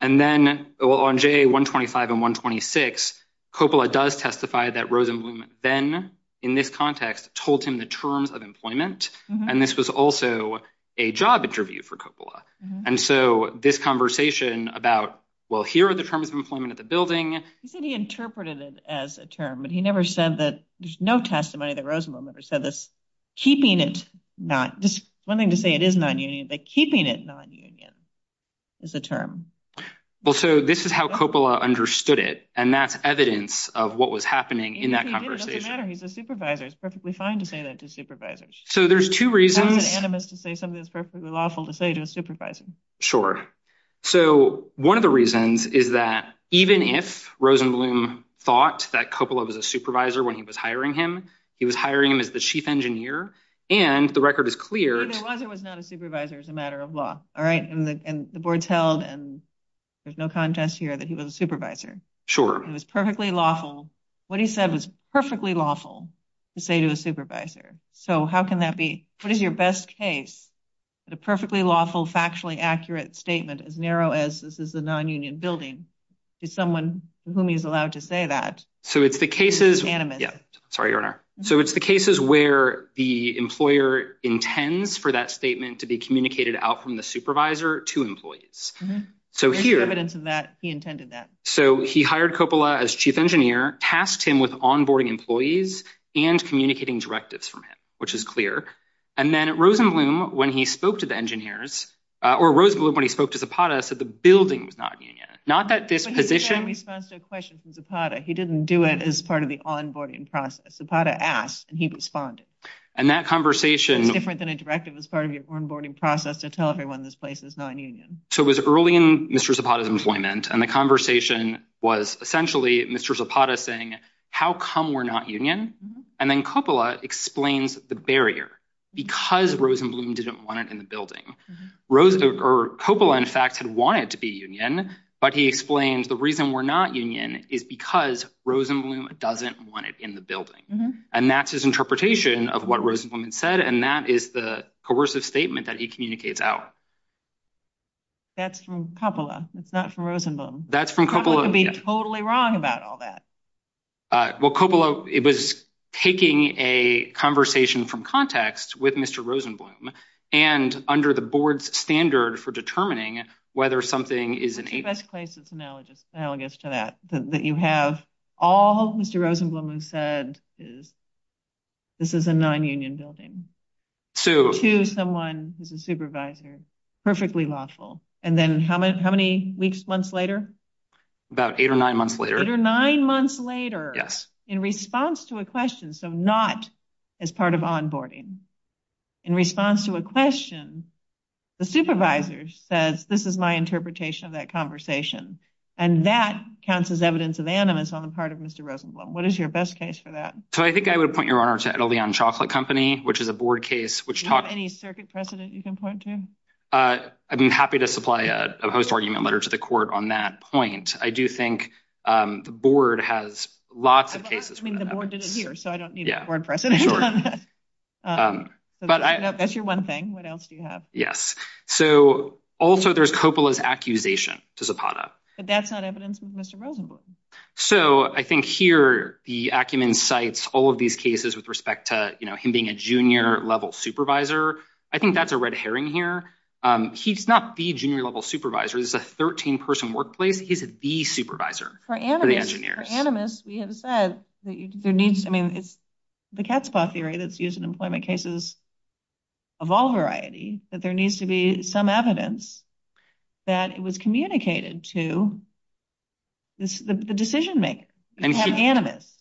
And then on JA 125 and 126, Coppola does testify that Rosenblum then, in this context, told him the terms of employment. And this was also a job interview for Coppola. And so this conversation about, well, here are the terms of employment at the building. He said he interpreted it as a term. But he never said that there's no testimony that Rosenblum ever said this. Keeping it not, just one thing to say, it is non-union. But keeping it non-union is a term. Well, so this is how Coppola understood it. And that's evidence of what was happening in that conversation. It doesn't matter. He's a supervisor. It's perfectly fine to say that to supervisors. So there's two reasons. It's not anonymous to say something that's perfectly lawful to say to a supervisor. Sure. So one of the reasons is that even if Rosenblum thought that Coppola was a supervisor when he was hiring him, he was hiring him as the chief engineer. And the record is clear. He was or was not a supervisor as a matter of law, all right? And the board's held. And there's no contest here that he was a supervisor. Sure. It was perfectly lawful. What he said was perfectly lawful to say to a supervisor. So how can that be? What is your best case that a perfectly lawful, factually accurate statement, as narrow as this is a non-union building, to someone to whom he's allowed to say that? So it's the cases. Sorry, Your Honor. So it's the cases where the employer intends for that statement to be communicated out from the supervisor to employees. So here. There's evidence of that. He intended that. So he hired Coppola as chief engineer, tasked him with onboarding employees and communicating directives from him, which is clear. And then Rosenblum, when he spoke to the engineers, or Rosenblum, when he spoke to Zapata, said the building was not a union. Not that this position. But he didn't respond to a question from Zapata. He didn't do it as part of the onboarding process. Zapata asked, and he responded. And that conversation. It's different than a directive as part of your onboarding process to tell everyone this place is non-union. So it was early in Mr. Zapata's employment. And the conversation was essentially Mr. Zapata saying, how come we're not union? And then Coppola explains the barrier. Because Rosenblum didn't want it in the building. Coppola, in fact, had wanted to be union. But he explained the reason we're not union is because Rosenblum doesn't want it in the building. And that's his interpretation of what Rosenblum said. And that is the coercive statement that he communicates out. That's from Coppola. It's not from Rosenblum. That's from Coppola. I could be totally wrong about all that. Well, Coppola, it was taking a conversation from context with Mr. Rosenblum. And under the board's standard for determining whether something is in a place that's analogous to that, that you have all Mr. Rosenblum said is this is a non-union building to someone who's a supervisor. Perfectly lawful. And then how many weeks, months later? About eight or nine months later. Nine months later. Yes. In response to a question. So not as part of onboarding. In response to a question, the supervisor says, this is my interpretation of that conversation. And that counts as evidence of animus on the part of Mr. Rosenblum. What is your best case for that? So I think I would point your honor to Edelveon Chocolate Company, which is a board case, which talk any circuit precedent you can point to. I've been happy to supply a host argument letter to the court on that point. I do think the board has lots of cases. I mean, the board did it here, so I don't need a board president. Sure. That's your one thing. What else do you have? Yes. So also, there's Coppola's accusation to Zapata. But that's not evidence of Mr. Rosenblum. So I think here, the acumen cites all of these cases with respect to him being a junior level supervisor. I think that's a red herring here. He's not the junior level supervisor. This is a 13-person workplace. He's the supervisor for the engineers. For Animus, we have said that there needs to be, I mean, it's the cat's paw theory that's used in employment cases of all variety, that there needs to be some evidence that it was communicated to the decision-maker, Animus.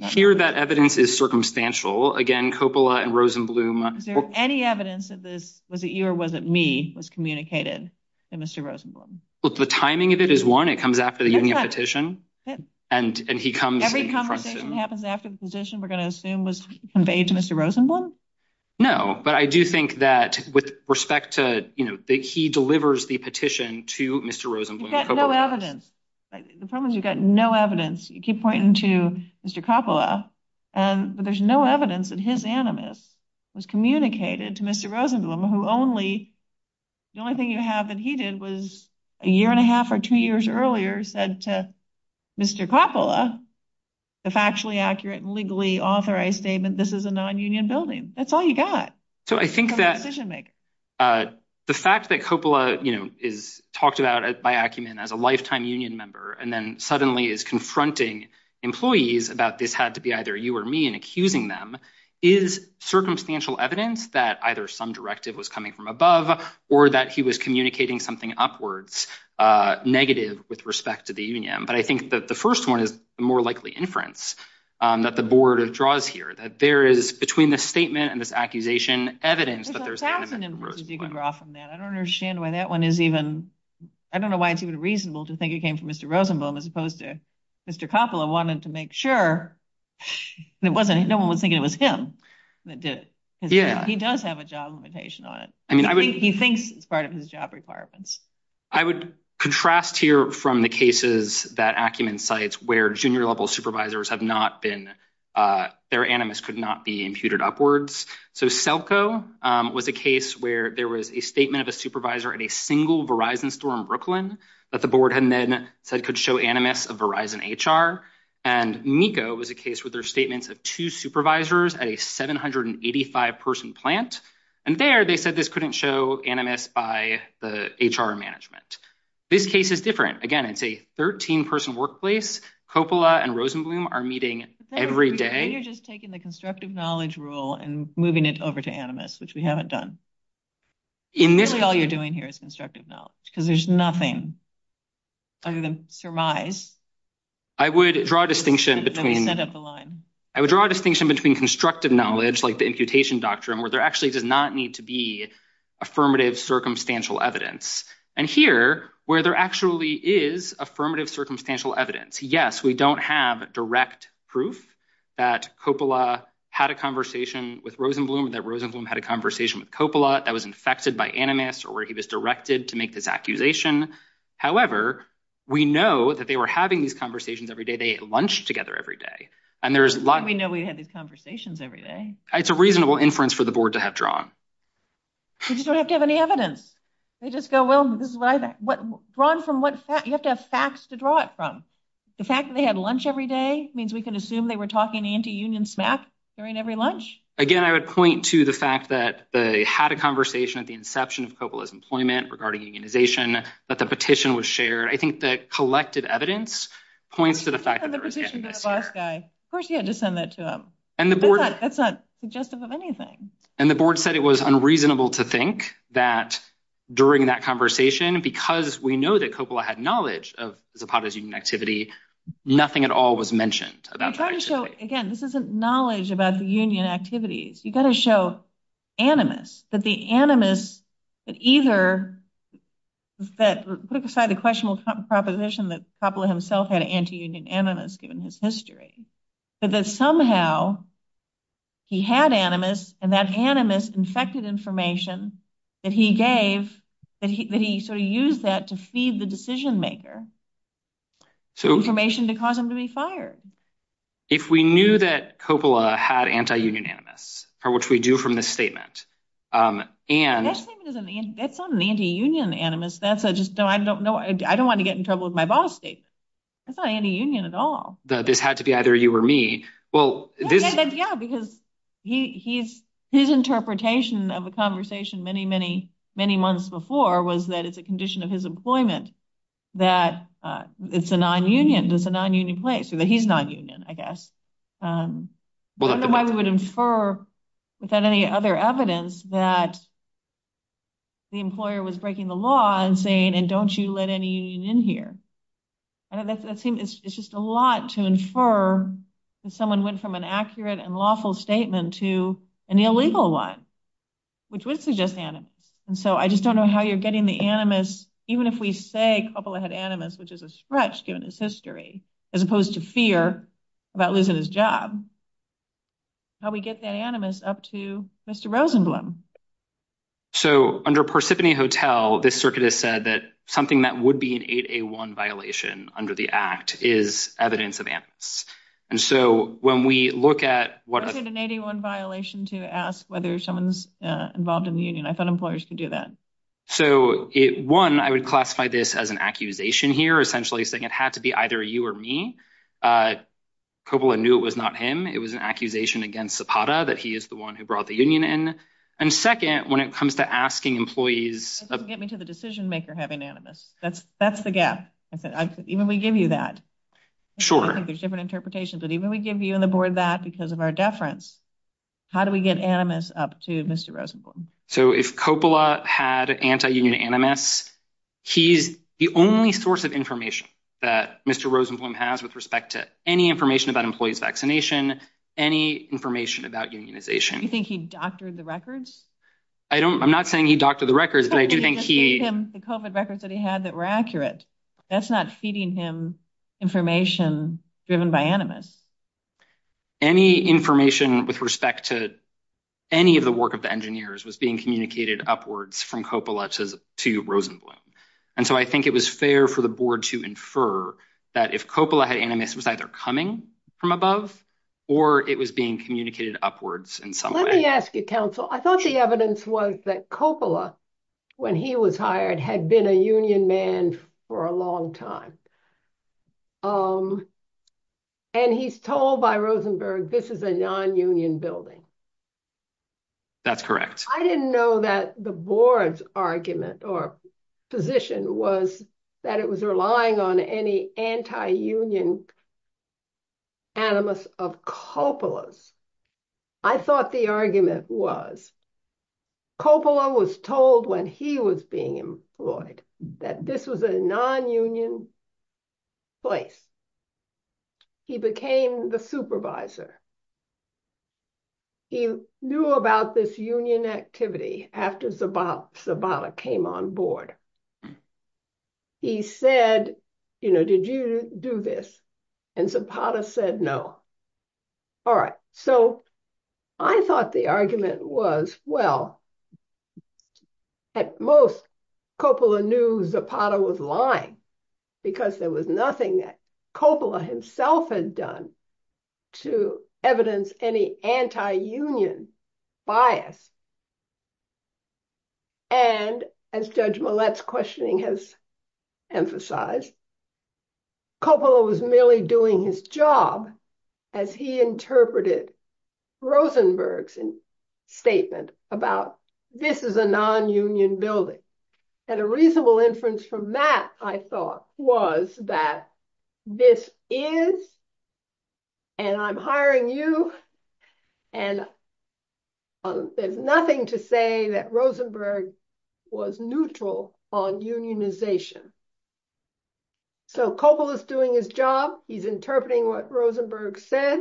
Here, that evidence is circumstantial. Again, Coppola and Rosenblum— Is there any evidence that this, was it you or was it me, was communicated to Mr. Rosenblum? Well, the timing of it is one. It comes after the union petition. And he comes— Every conversation happens after the petition, we're going to assume, was conveyed to Mr. Rosenblum? No, but I do think that with respect to, you know, that he delivers the petition to Mr. Rosenblum. You've got no evidence. The problem is you've got no evidence. You keep pointing to Mr. Coppola, but there's no evidence that his Animus was communicated to Mr. Rosenblum, who only, the only thing you have that he did was a year and a half or two years earlier said to Mr. Coppola, the factually accurate and legally authorized statement, this is a non-union building. That's all you got. So, I think that the fact that Coppola, you know, is talked about by Acumen as a lifetime union member and then suddenly is confronting employees about this had to be either you or me and accusing them is circumstantial evidence that either some directive was coming from above or that he was communicating something upwards, uh, negative with respect to the union. But I think that the first one is more likely inference, um, that the board of draws here that there is between the statement and this accusation evidence. But there's, I don't understand why that one is even, I don't know why it's even reasonable to think it came from Mr. Rosenblum as opposed to Mr. Coppola wanted to make sure it wasn't, no one was thinking it was him that did it. He does have a job limitation on it. I mean, he thinks it's part of his job requirements. I would contrast here from the cases that Acumen cites where junior level supervisors have not been, uh, their animus could not be imputed upwards. So, Selco, um, was a case where there was a statement of a supervisor at a single Verizon store in Brooklyn that the board had then said could show animus of Verizon HR. And Nico was a case with their statements of two supervisors at a 785 person plant. And there they said this couldn't show animus by the HR management. This case is different. Again, it's a 13 person workplace. Coppola and Rosenblum are meeting every day. And you're just taking the constructive knowledge rule and moving it over to animus, which we haven't done. In this, all you're doing here is constructive knowledge because there's nothing other than surmise. I would draw a distinction between, I would draw a distinction between constructive knowledge, like the imputation doctrine, where there actually does not need to be affirmative circumstantial evidence. And here, where there actually is affirmative circumstantial evidence, yes, we don't have direct proof that Coppola had a conversation with Rosenblum, that Rosenblum had a conversation with Coppola that was infected by animus or where he was directed to make this accusation. However, we know that they were having these conversations every day. They ate lunch together every day. And there's a lot. We know we had these conversations every day. It's a reasonable inference for the board to have drawn. We just don't have to have any evidence. They just go, well, this is what I think. What, drawn from what facts? You have to have facts to draw it from. The fact that they had lunch every day means we can assume they were talking anti-union smack during every lunch. Again, I would point to the fact that they had a conversation at the inception of Coppola's employment regarding unionization, that the petition was shared. I think the collective evidence points to the fact that there was animus here. And the petition to the boss guy. Of course, you had to send that to him. That's not suggestive of anything. And the board said it was unreasonable to think that during that conversation, because we know that Coppola had knowledge of Zapata's union activity, nothing at all was mentioned. Again, this isn't knowledge about the union activities. You've got to show animus, that the animus, that either, put aside the questionable proposition that Coppola himself had anti-union animus given his history, but that somehow he had animus and that animus infected information that he gave, that he sort of used that to feed the decision maker, information to cause him to be fired. If we knew that Coppola had anti-union animus, which we do from this statement. That's not an anti-union animus. I don't want to get in trouble with my boss. That's not anti-union at all. This had to be either you or me. Yeah, because his interpretation of a conversation many, many, many months before was that it's a condition of his employment that it's a non-union, it's a non-union place. He's non-union, I guess. I don't know why we would infer without any other evidence that the employer was breaking the law and saying, and don't you let any union in here. It's just a lot to infer that someone went from an accurate and lawful statement to an illegal one, which would suggest animus. So I just don't know how you're getting the animus, even if we say Coppola had animus, which is a stretch given his history, as opposed to fear about losing his job. How do we get that animus up to Mr. Rosenblum? So under Parsippany Hotel, this circuit has said that something that would be an 8A1 violation under the act is evidence of animus. And so when we look at what— I said an 8A1 violation to ask whether someone's involved in the union. I thought employers could do that. So one, I would classify this as an accusation here, essentially saying it had to be either you or me. Coppola knew it was not him. It was an accusation against Zapata that he is the one who brought the union in. And second, when it comes to asking employees— Get me to the decision-maker having animus. That's the gap. Even we give you that. Sure. I think there's different interpretations, but even we give you and the board that because of our deference, how do we get animus up to Mr. Rosenblum? So if Coppola had anti-union animus, he's the only source of information that Mr. Rosenblum has with respect to any information about employees' vaccination, any information about unionization. You think he doctored the records? I don't— I'm not saying he doctored the records, but I do think he— He just gave him the COVID records that he had that were accurate. That's not feeding him information driven by animus. Any information with respect to any of the work of the engineers was being communicated upwards from Coppola to Rosenblum. And so I think it was fair for the board to infer that if Coppola had animus, it was either coming from above or it was being communicated upwards in some way. Let me ask you, counsel. I thought the evidence was that Coppola, when he was hired, had been a union man for a long time. And he's told by Rosenberg, this is a non-union building. That's correct. I didn't know that the board's argument or position was that it was relying on any anti-union animus of Coppola's. I thought the argument was Coppola was told when he was being employed that this was a non-union place. He became the supervisor. He knew about this union activity after Zapata came on board. He said, you know, did you do this? And Zapata said no. All right. So I thought the argument was, well, at most, Coppola knew Zapata was lying. Because there was nothing that Coppola himself had done to evidence any anti-union bias. And as Judge Millett's questioning has emphasized, Coppola was merely doing his job as he interpreted Rosenberg's statement about, this is a non-union building. And a reasonable inference from that, I thought, was that this is, and I'm hiring you. And there's nothing to say that Rosenberg was neutral on unionization. So Coppola is doing his job. He's interpreting what Rosenberg said.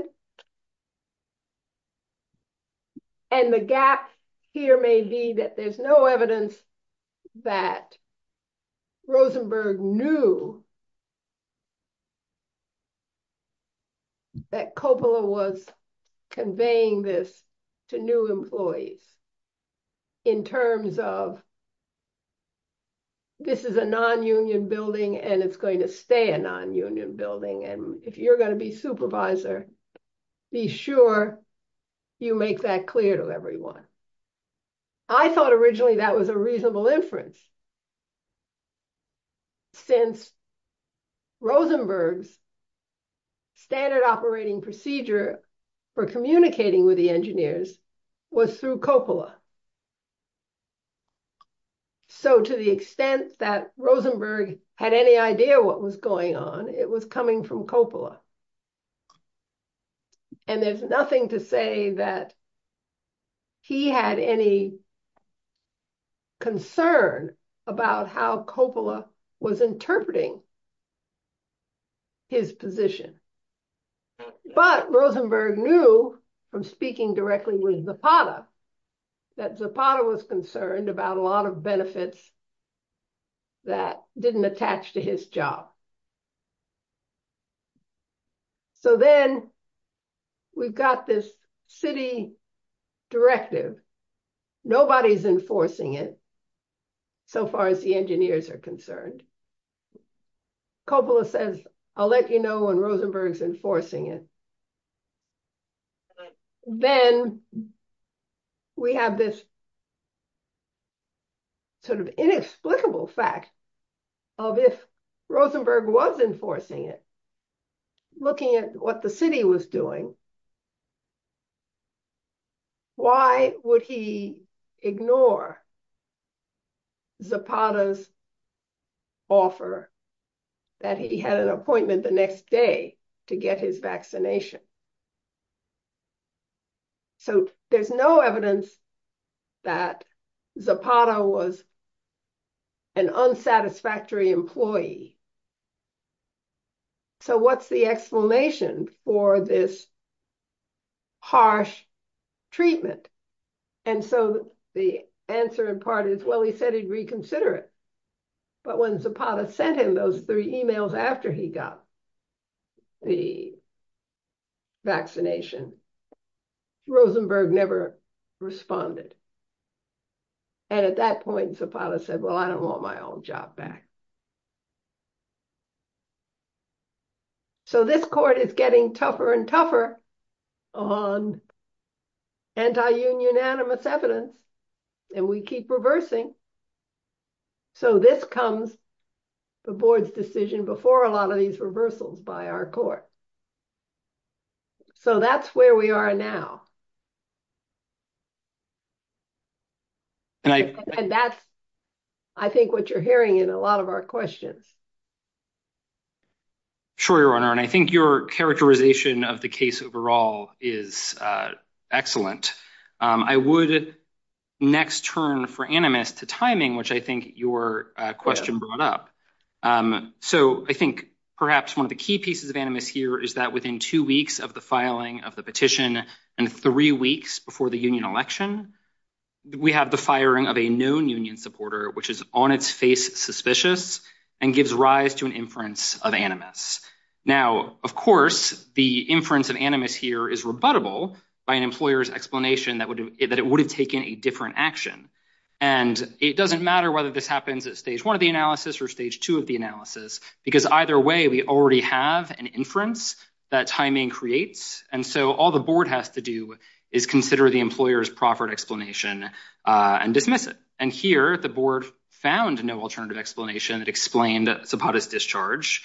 And the gap here may be that there's no evidence that Rosenberg knew that Coppola was conveying this to new employees in terms of, this is a non-union building and it's going to stay a non-union building. And if you're going to be supervisor, be sure you make that clear to everyone. I thought originally that was a reasonable inference, since Rosenberg's standard operating procedure for communicating with the engineers was through Coppola. So to the extent that Rosenberg had any idea what was going on, it was coming from Coppola. And there's nothing to say that he had any concern about how Coppola was interpreting his position. But Rosenberg knew from speaking directly with Zapata, that Zapata was concerned about a lot of benefits that didn't attach to his job. So then we've got this city directive. Nobody's enforcing it so far as the engineers are concerned. Coppola says, I'll let you know when Rosenberg's enforcing it. Then we have this sort of inexplicable fact of if Rosenberg was enforcing it, looking at what the city was doing, why would he ignore Zapata's offer that he had an appointment the next day to get his vaccination? So there's no evidence that Zapata was an unsatisfactory employee. So what's the exclamation for this harsh treatment? And so the answer in part is, well, he said he'd reconsider it. But when Zapata sent him those three emails after he got the vaccination, Rosenberg never responded. And at that point, Zapata said, well, I don't want my old job back. So this court is getting tougher and tougher on anti-union unanimous evidence. And we keep reversing. So this comes, the board's decision before a lot of these reversals by our court. So that's where we are now. And that's, I think, what you're hearing in a lot of our questions. Sure, Your Honor, and I think your characterization of the case overall is excellent. Excellent. I would next turn for animus to timing, which I think your question brought up. So I think perhaps one of the key pieces of animus here is that within two weeks of the filing of the petition and three weeks before the union election, we have the firing of a known union supporter, which is on its face suspicious and gives rise to an inference of animus. Now, of course, the inference of animus here is rebuttable by an employer's explanation that it would have taken a different action. And it doesn't matter whether this happens at stage one of the analysis or stage two of the analysis, because either way, we already have an inference that timing creates. And so all the board has to do is consider the employer's proffered explanation and dismiss it. And here the board found no alternative explanation that explained Zapata's discharge.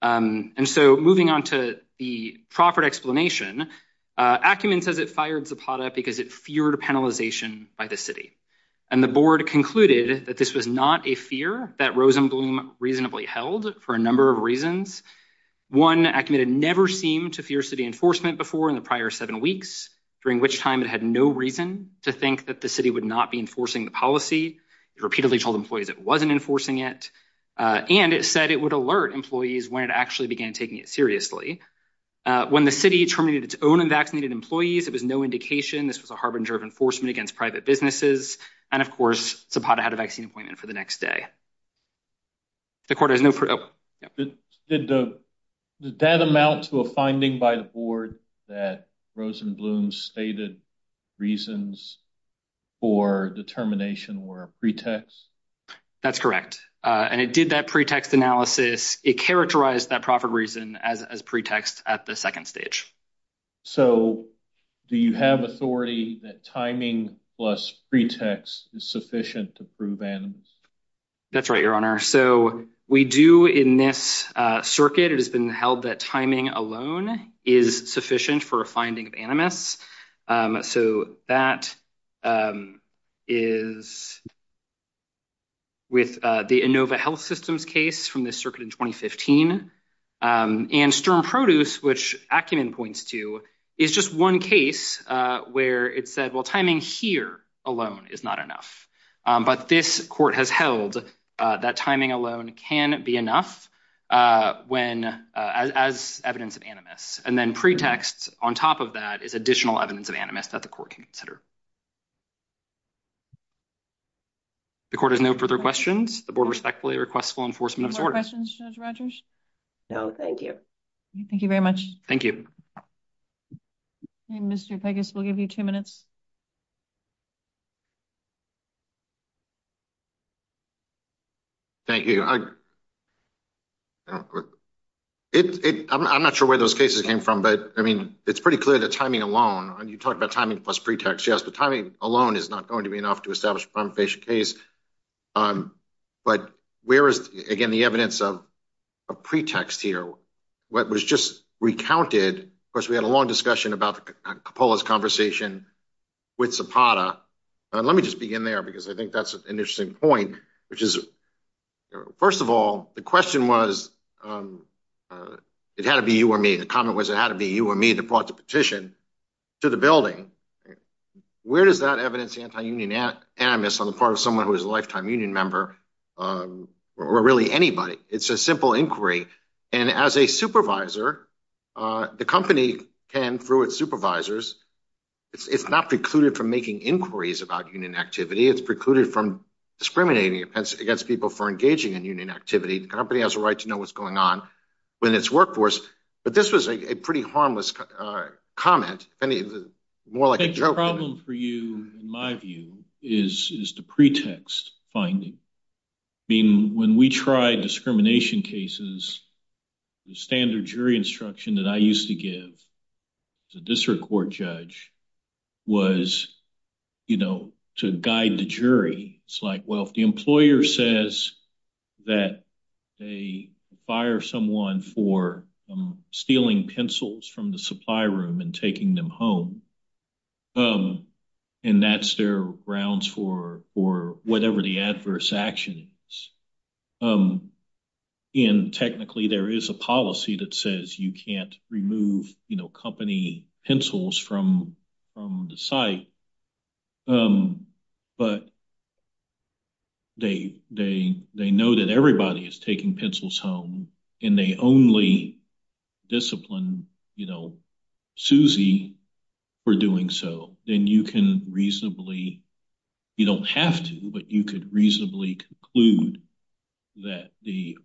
And so moving on to the proffered explanation, Acumen says it fired Zapata because it feared penalization by the city. And the board concluded that this was not a fear that Rosenblum reasonably held for a number of reasons. One, Acumen had never seemed to fear city enforcement before in the prior seven weeks, during which time it had no reason to think that the city would not be enforcing the policy. It repeatedly told employees it wasn't enforcing it. And it said it would alert employees when it actually began taking it seriously. When the city terminated its own unvaccinated employees, it was no indication this was a harbinger of enforcement against private businesses. And, of course, Zapata had a vaccine appointment for the next day. The court has no... Did that amount to a finding by the board that Rosenblum's stated reasons for determination were a pretext? That's correct. And it did that pretext analysis. It characterized that proffered reason as pretext at the second stage. So do you have authority that timing plus pretext is sufficient to prove animus? That's right, Your Honor. So we do in this circuit. It has been held that timing alone is sufficient for a finding of animus. So that is with the Inova Health Systems case from this circuit in 2015. And Sturm Produce, which Ackerman points to, is just one case where it said, well, timing here alone is not enough. But this court has held that timing alone can be enough as evidence of animus. And then pretext on top of that is additional evidence of animus that the court can consider. The court has no further questions. The board respectfully requests full enforcement of its order. No questions, Judge Rogers? No, thank you. Thank you very much. Thank you. Mr. Pegas, we'll give you two minutes. Thank you. I'm not sure where those cases came from. But I mean, it's pretty clear that timing alone, and you talk about timing plus pretext, yes, but timing alone is not going to be enough to establish a prima facie case. But where is, again, the evidence of pretext here? What was just recounted, of course, we had a long discussion about Coppola's conversation with Zapata. Let me just begin there, because I think that's an interesting point, which is, first of all, the question was, it had to be you or me. The comment was, it had to be you or me that brought the petition to the building. Where does that evidence anti-union animus on the part of someone who is a lifetime union member, or really anybody? It's a simple inquiry. And as a supervisor, the company can, through its supervisors, it's not precluded from making inquiries about union activity. It's precluded from discriminating against people for engaging in union activity. The company has a right to know what's going on in its workforce. But this was a pretty harmless comment, more like a joke. The problem for you, in my view, is the pretext finding. When we try discrimination cases, the standard jury instruction that I used to give as a district court judge was, you know, to guide the jury. It's like, well, if the employer says that they fire someone for stealing pencils from the supply room and taking them home, and that's their grounds for whatever the adverse action is. And technically, there is a policy that says you can't remove company pencils from the site. But they know that everybody is taking pencils home, and they only discipline Susie for doing so. Then you can reasonably, you don't have to, but you could reasonably conclude that the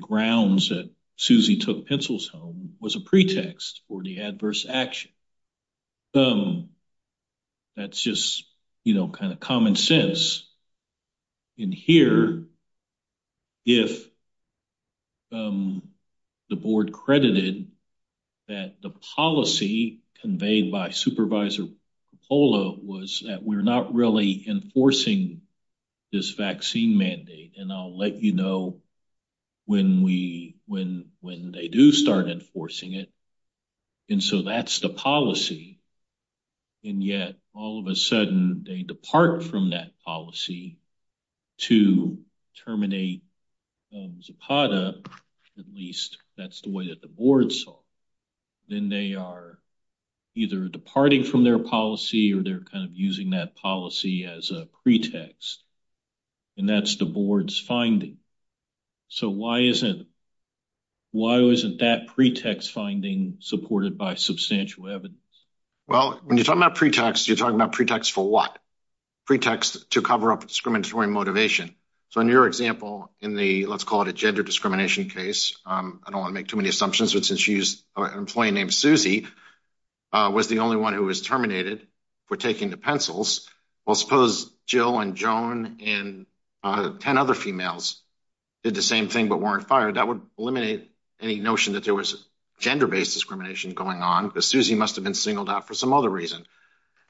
grounds that Susie took pencils home was a pretext for the adverse action. That's just, you know, kind of common sense. In here, if the board credited that the policy conveyed by Supervisor Coppola was that we're not really enforcing this vaccine mandate, and I'll let you know when they do start enforcing it, and so that's the policy. And yet, all of a sudden, they depart from that policy to terminate Zapata, at least that's the way that the board saw it. Then they are either departing from their policy, or they're kind of using that policy as a pretext, and that's the board's finding. So why isn't that pretext finding supported by substantial evidence? Well, when you're talking about pretext, you're talking about pretext for what? Pretext to cover up discriminatory motivation. So in your example, in the, let's call it a gender discrimination case, I don't want to make too many assumptions, but since you used an employee named Susie was the only one who was terminated for taking the pencils. Well, suppose Jill and Joan and 10 other females did the same thing but weren't fired. That would eliminate any notion that there was gender-based discrimination going on, because Susie must have been singled out for some other reason.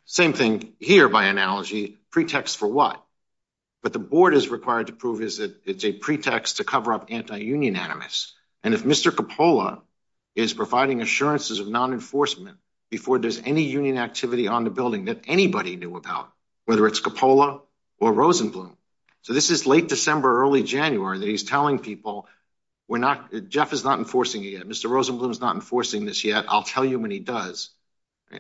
Same thing here by analogy, pretext for what? But the board is required to prove it's a pretext to cover up anti-union animus. If Mr. Coppola is providing assurances of non-enforcement before there's any union activity on the building that anybody knew about, whether it's Coppola or Rosenblum, so this is late December, early January, that he's telling people, Jeff is not enforcing it yet. Mr. Rosenblum is not enforcing this yet. I'll tell you when he does.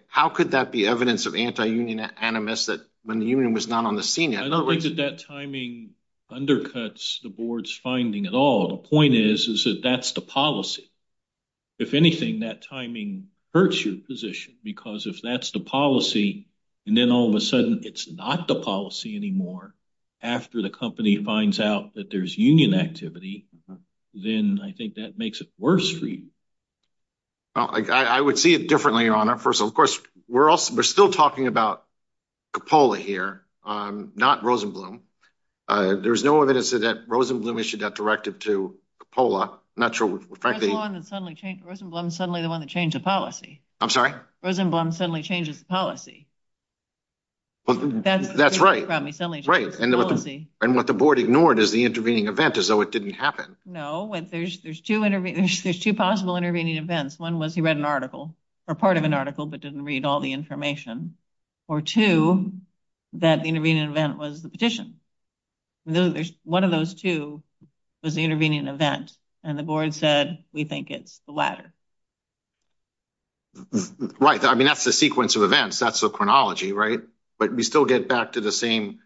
How could that be evidence of anti-union animus when the union was not on the scene yet? I don't think that that timing undercuts the board's finding at all. The point is that that's the policy. If anything, that timing hurts your position, because if that's the policy, and then all of a sudden it's not the policy anymore after the company finds out that there's union activity, then I think that makes it worse for you. I would see it differently, Your Honor. First of all, of course, we're still talking about Coppola here, not Rosenblum. There's no evidence that Rosenblum issued that directive to Coppola. Rosenblum's suddenly the one that changed the policy. I'm sorry? Rosenblum suddenly changes the policy. That's right. And what the board ignored is the intervening event, as though it didn't happen. No, there's two possible intervening events. One was he read an article, or part of an article, but didn't read all the information. Or two, that the intervening event was the petition. One of those two was the intervening event, and the board said, we think it's the latter. Right. I mean, that's the sequence of events. That's the chronology, right? But we still get back to the same,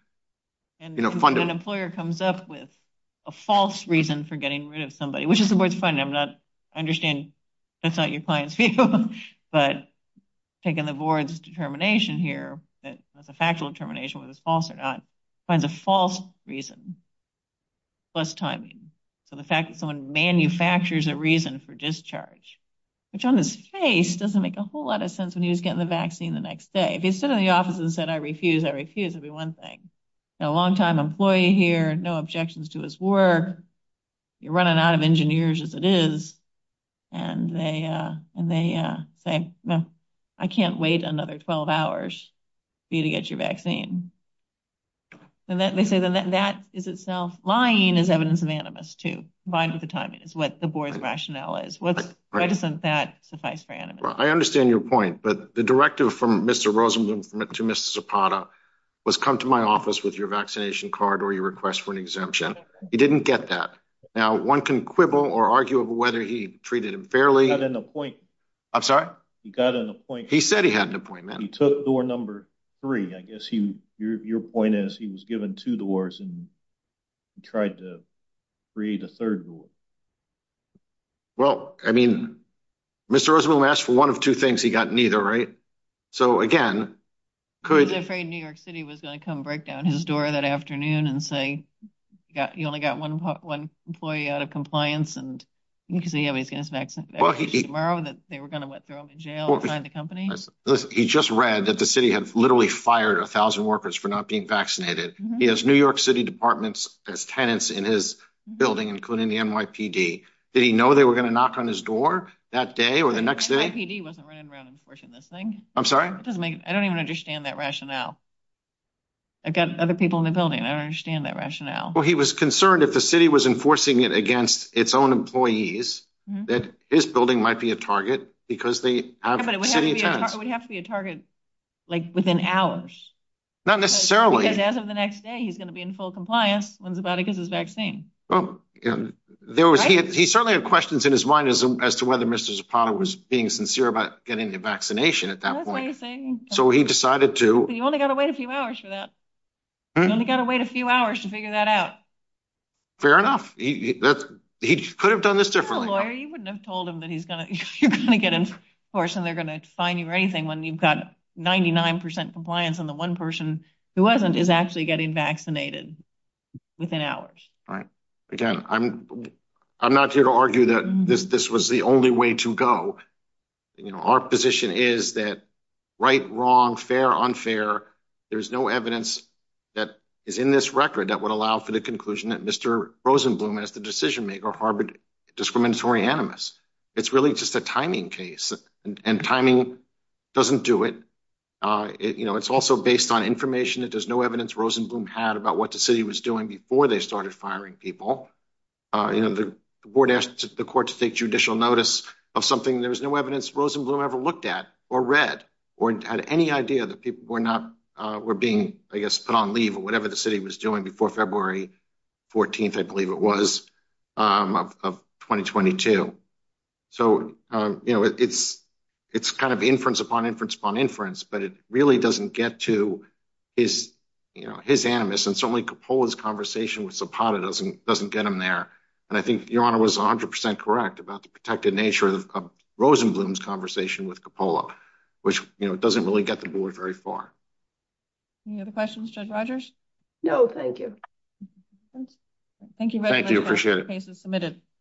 you know, funding. An employer comes up with a false reason for getting rid of somebody, which is the board's finding. I'm not, I understand that's not your client's view, but taking the board's determination here, that that's a factual determination, whether it's false or not, finds a false reason, plus timing. So the fact that someone manufactures a reason for discharge, which on his face doesn't make a whole lot of sense when he was getting the vaccine the next day. If he stood in the office and said, I refuse, I refuse, it'd be one thing. He's a longtime employee here, no objections to his work. You're running out of engineers, as it is. And they say, no, I can't wait another 12 hours for you to get your vaccine. And they say that that is itself lying as evidence of animus, too, combined with the timing is what the board's rationale is. What's reticent that suffice for animus? I understand your point. But the directive from Mr. Rosenblum to Ms. Zapata was come to my office with your vaccination card or your request for an exemption. He didn't get that. Now, one can quibble or argue whether he treated him fairly. He got an appointment. I'm sorry? He got an appointment. He said he had an appointment. He took door number three. I guess your point is he was given two doors and he tried to create a third door. Well, I mean, Mr. Rosenblum asked for one of two things. He got neither, right? So, again, could... He was afraid New York City was going to come break down his door that afternoon and say, you only got one employee out of compliance, and you can say he's going to get his vaccine tomorrow, that they were going to throw him in jail and find the company. He just read that the city had literally fired a thousand workers for not being vaccinated. He has New York City departments as tenants in his building, including the NYPD. Did he know they were going to knock on his door that day or the next day? The NYPD wasn't running around enforcing this thing. I'm sorry? It doesn't make... I don't even understand that rationale. I've got other people in the building. I don't understand that rationale. Well, he was concerned if the city was enforcing it against its own employees, that his building might be a target because they have city tenants. It would have to be a target, like, within hours. Not necessarily. Because as of the next day, he's going to be in full compliance when Zapata gives his vaccine. He certainly had questions in his mind as to whether Mr. Zapata was being sincere about getting the vaccination at that point. That's what he's saying. So he decided to... You only got to wait a few hours for that. You only got to wait a few hours to figure that out. Fair enough. He could have done this differently. If he was a lawyer, you wouldn't have told him that you're going to get enforced and they're going to fine you or anything when you've got 99% compliance and the one person who wasn't is actually getting vaccinated within hours. Right. Again, I'm not here to argue that this was the only way to go. Our position is that right, wrong, fair, unfair, there's no evidence that is in this record that would allow for the conclusion that Mr. Rosenblum, as the decision maker, harbored discriminatory animus. It's really just a timing case and timing doesn't do it. It's also based on information that there's no evidence Rosenblum had about what the city was doing before they started firing people. The board asked the court to take judicial notice of something. There was no evidence Rosenblum ever looked at or read or had any idea that people were being, I guess, put on leave or whatever the city was doing before February 14th, I believe it was, of 2022. So, you know, it's kind of inference upon inference upon inference, but it really doesn't get to his animus and certainly Coppola's conversation with Zapata doesn't get him there. And I think Your Honor was 100% correct about the protected nature of Rosenblum's conversation with Coppola, which doesn't really get the board very far. Any other questions, Judge Rodgers? No, thank you. Thank you. Thank you. Appreciate it.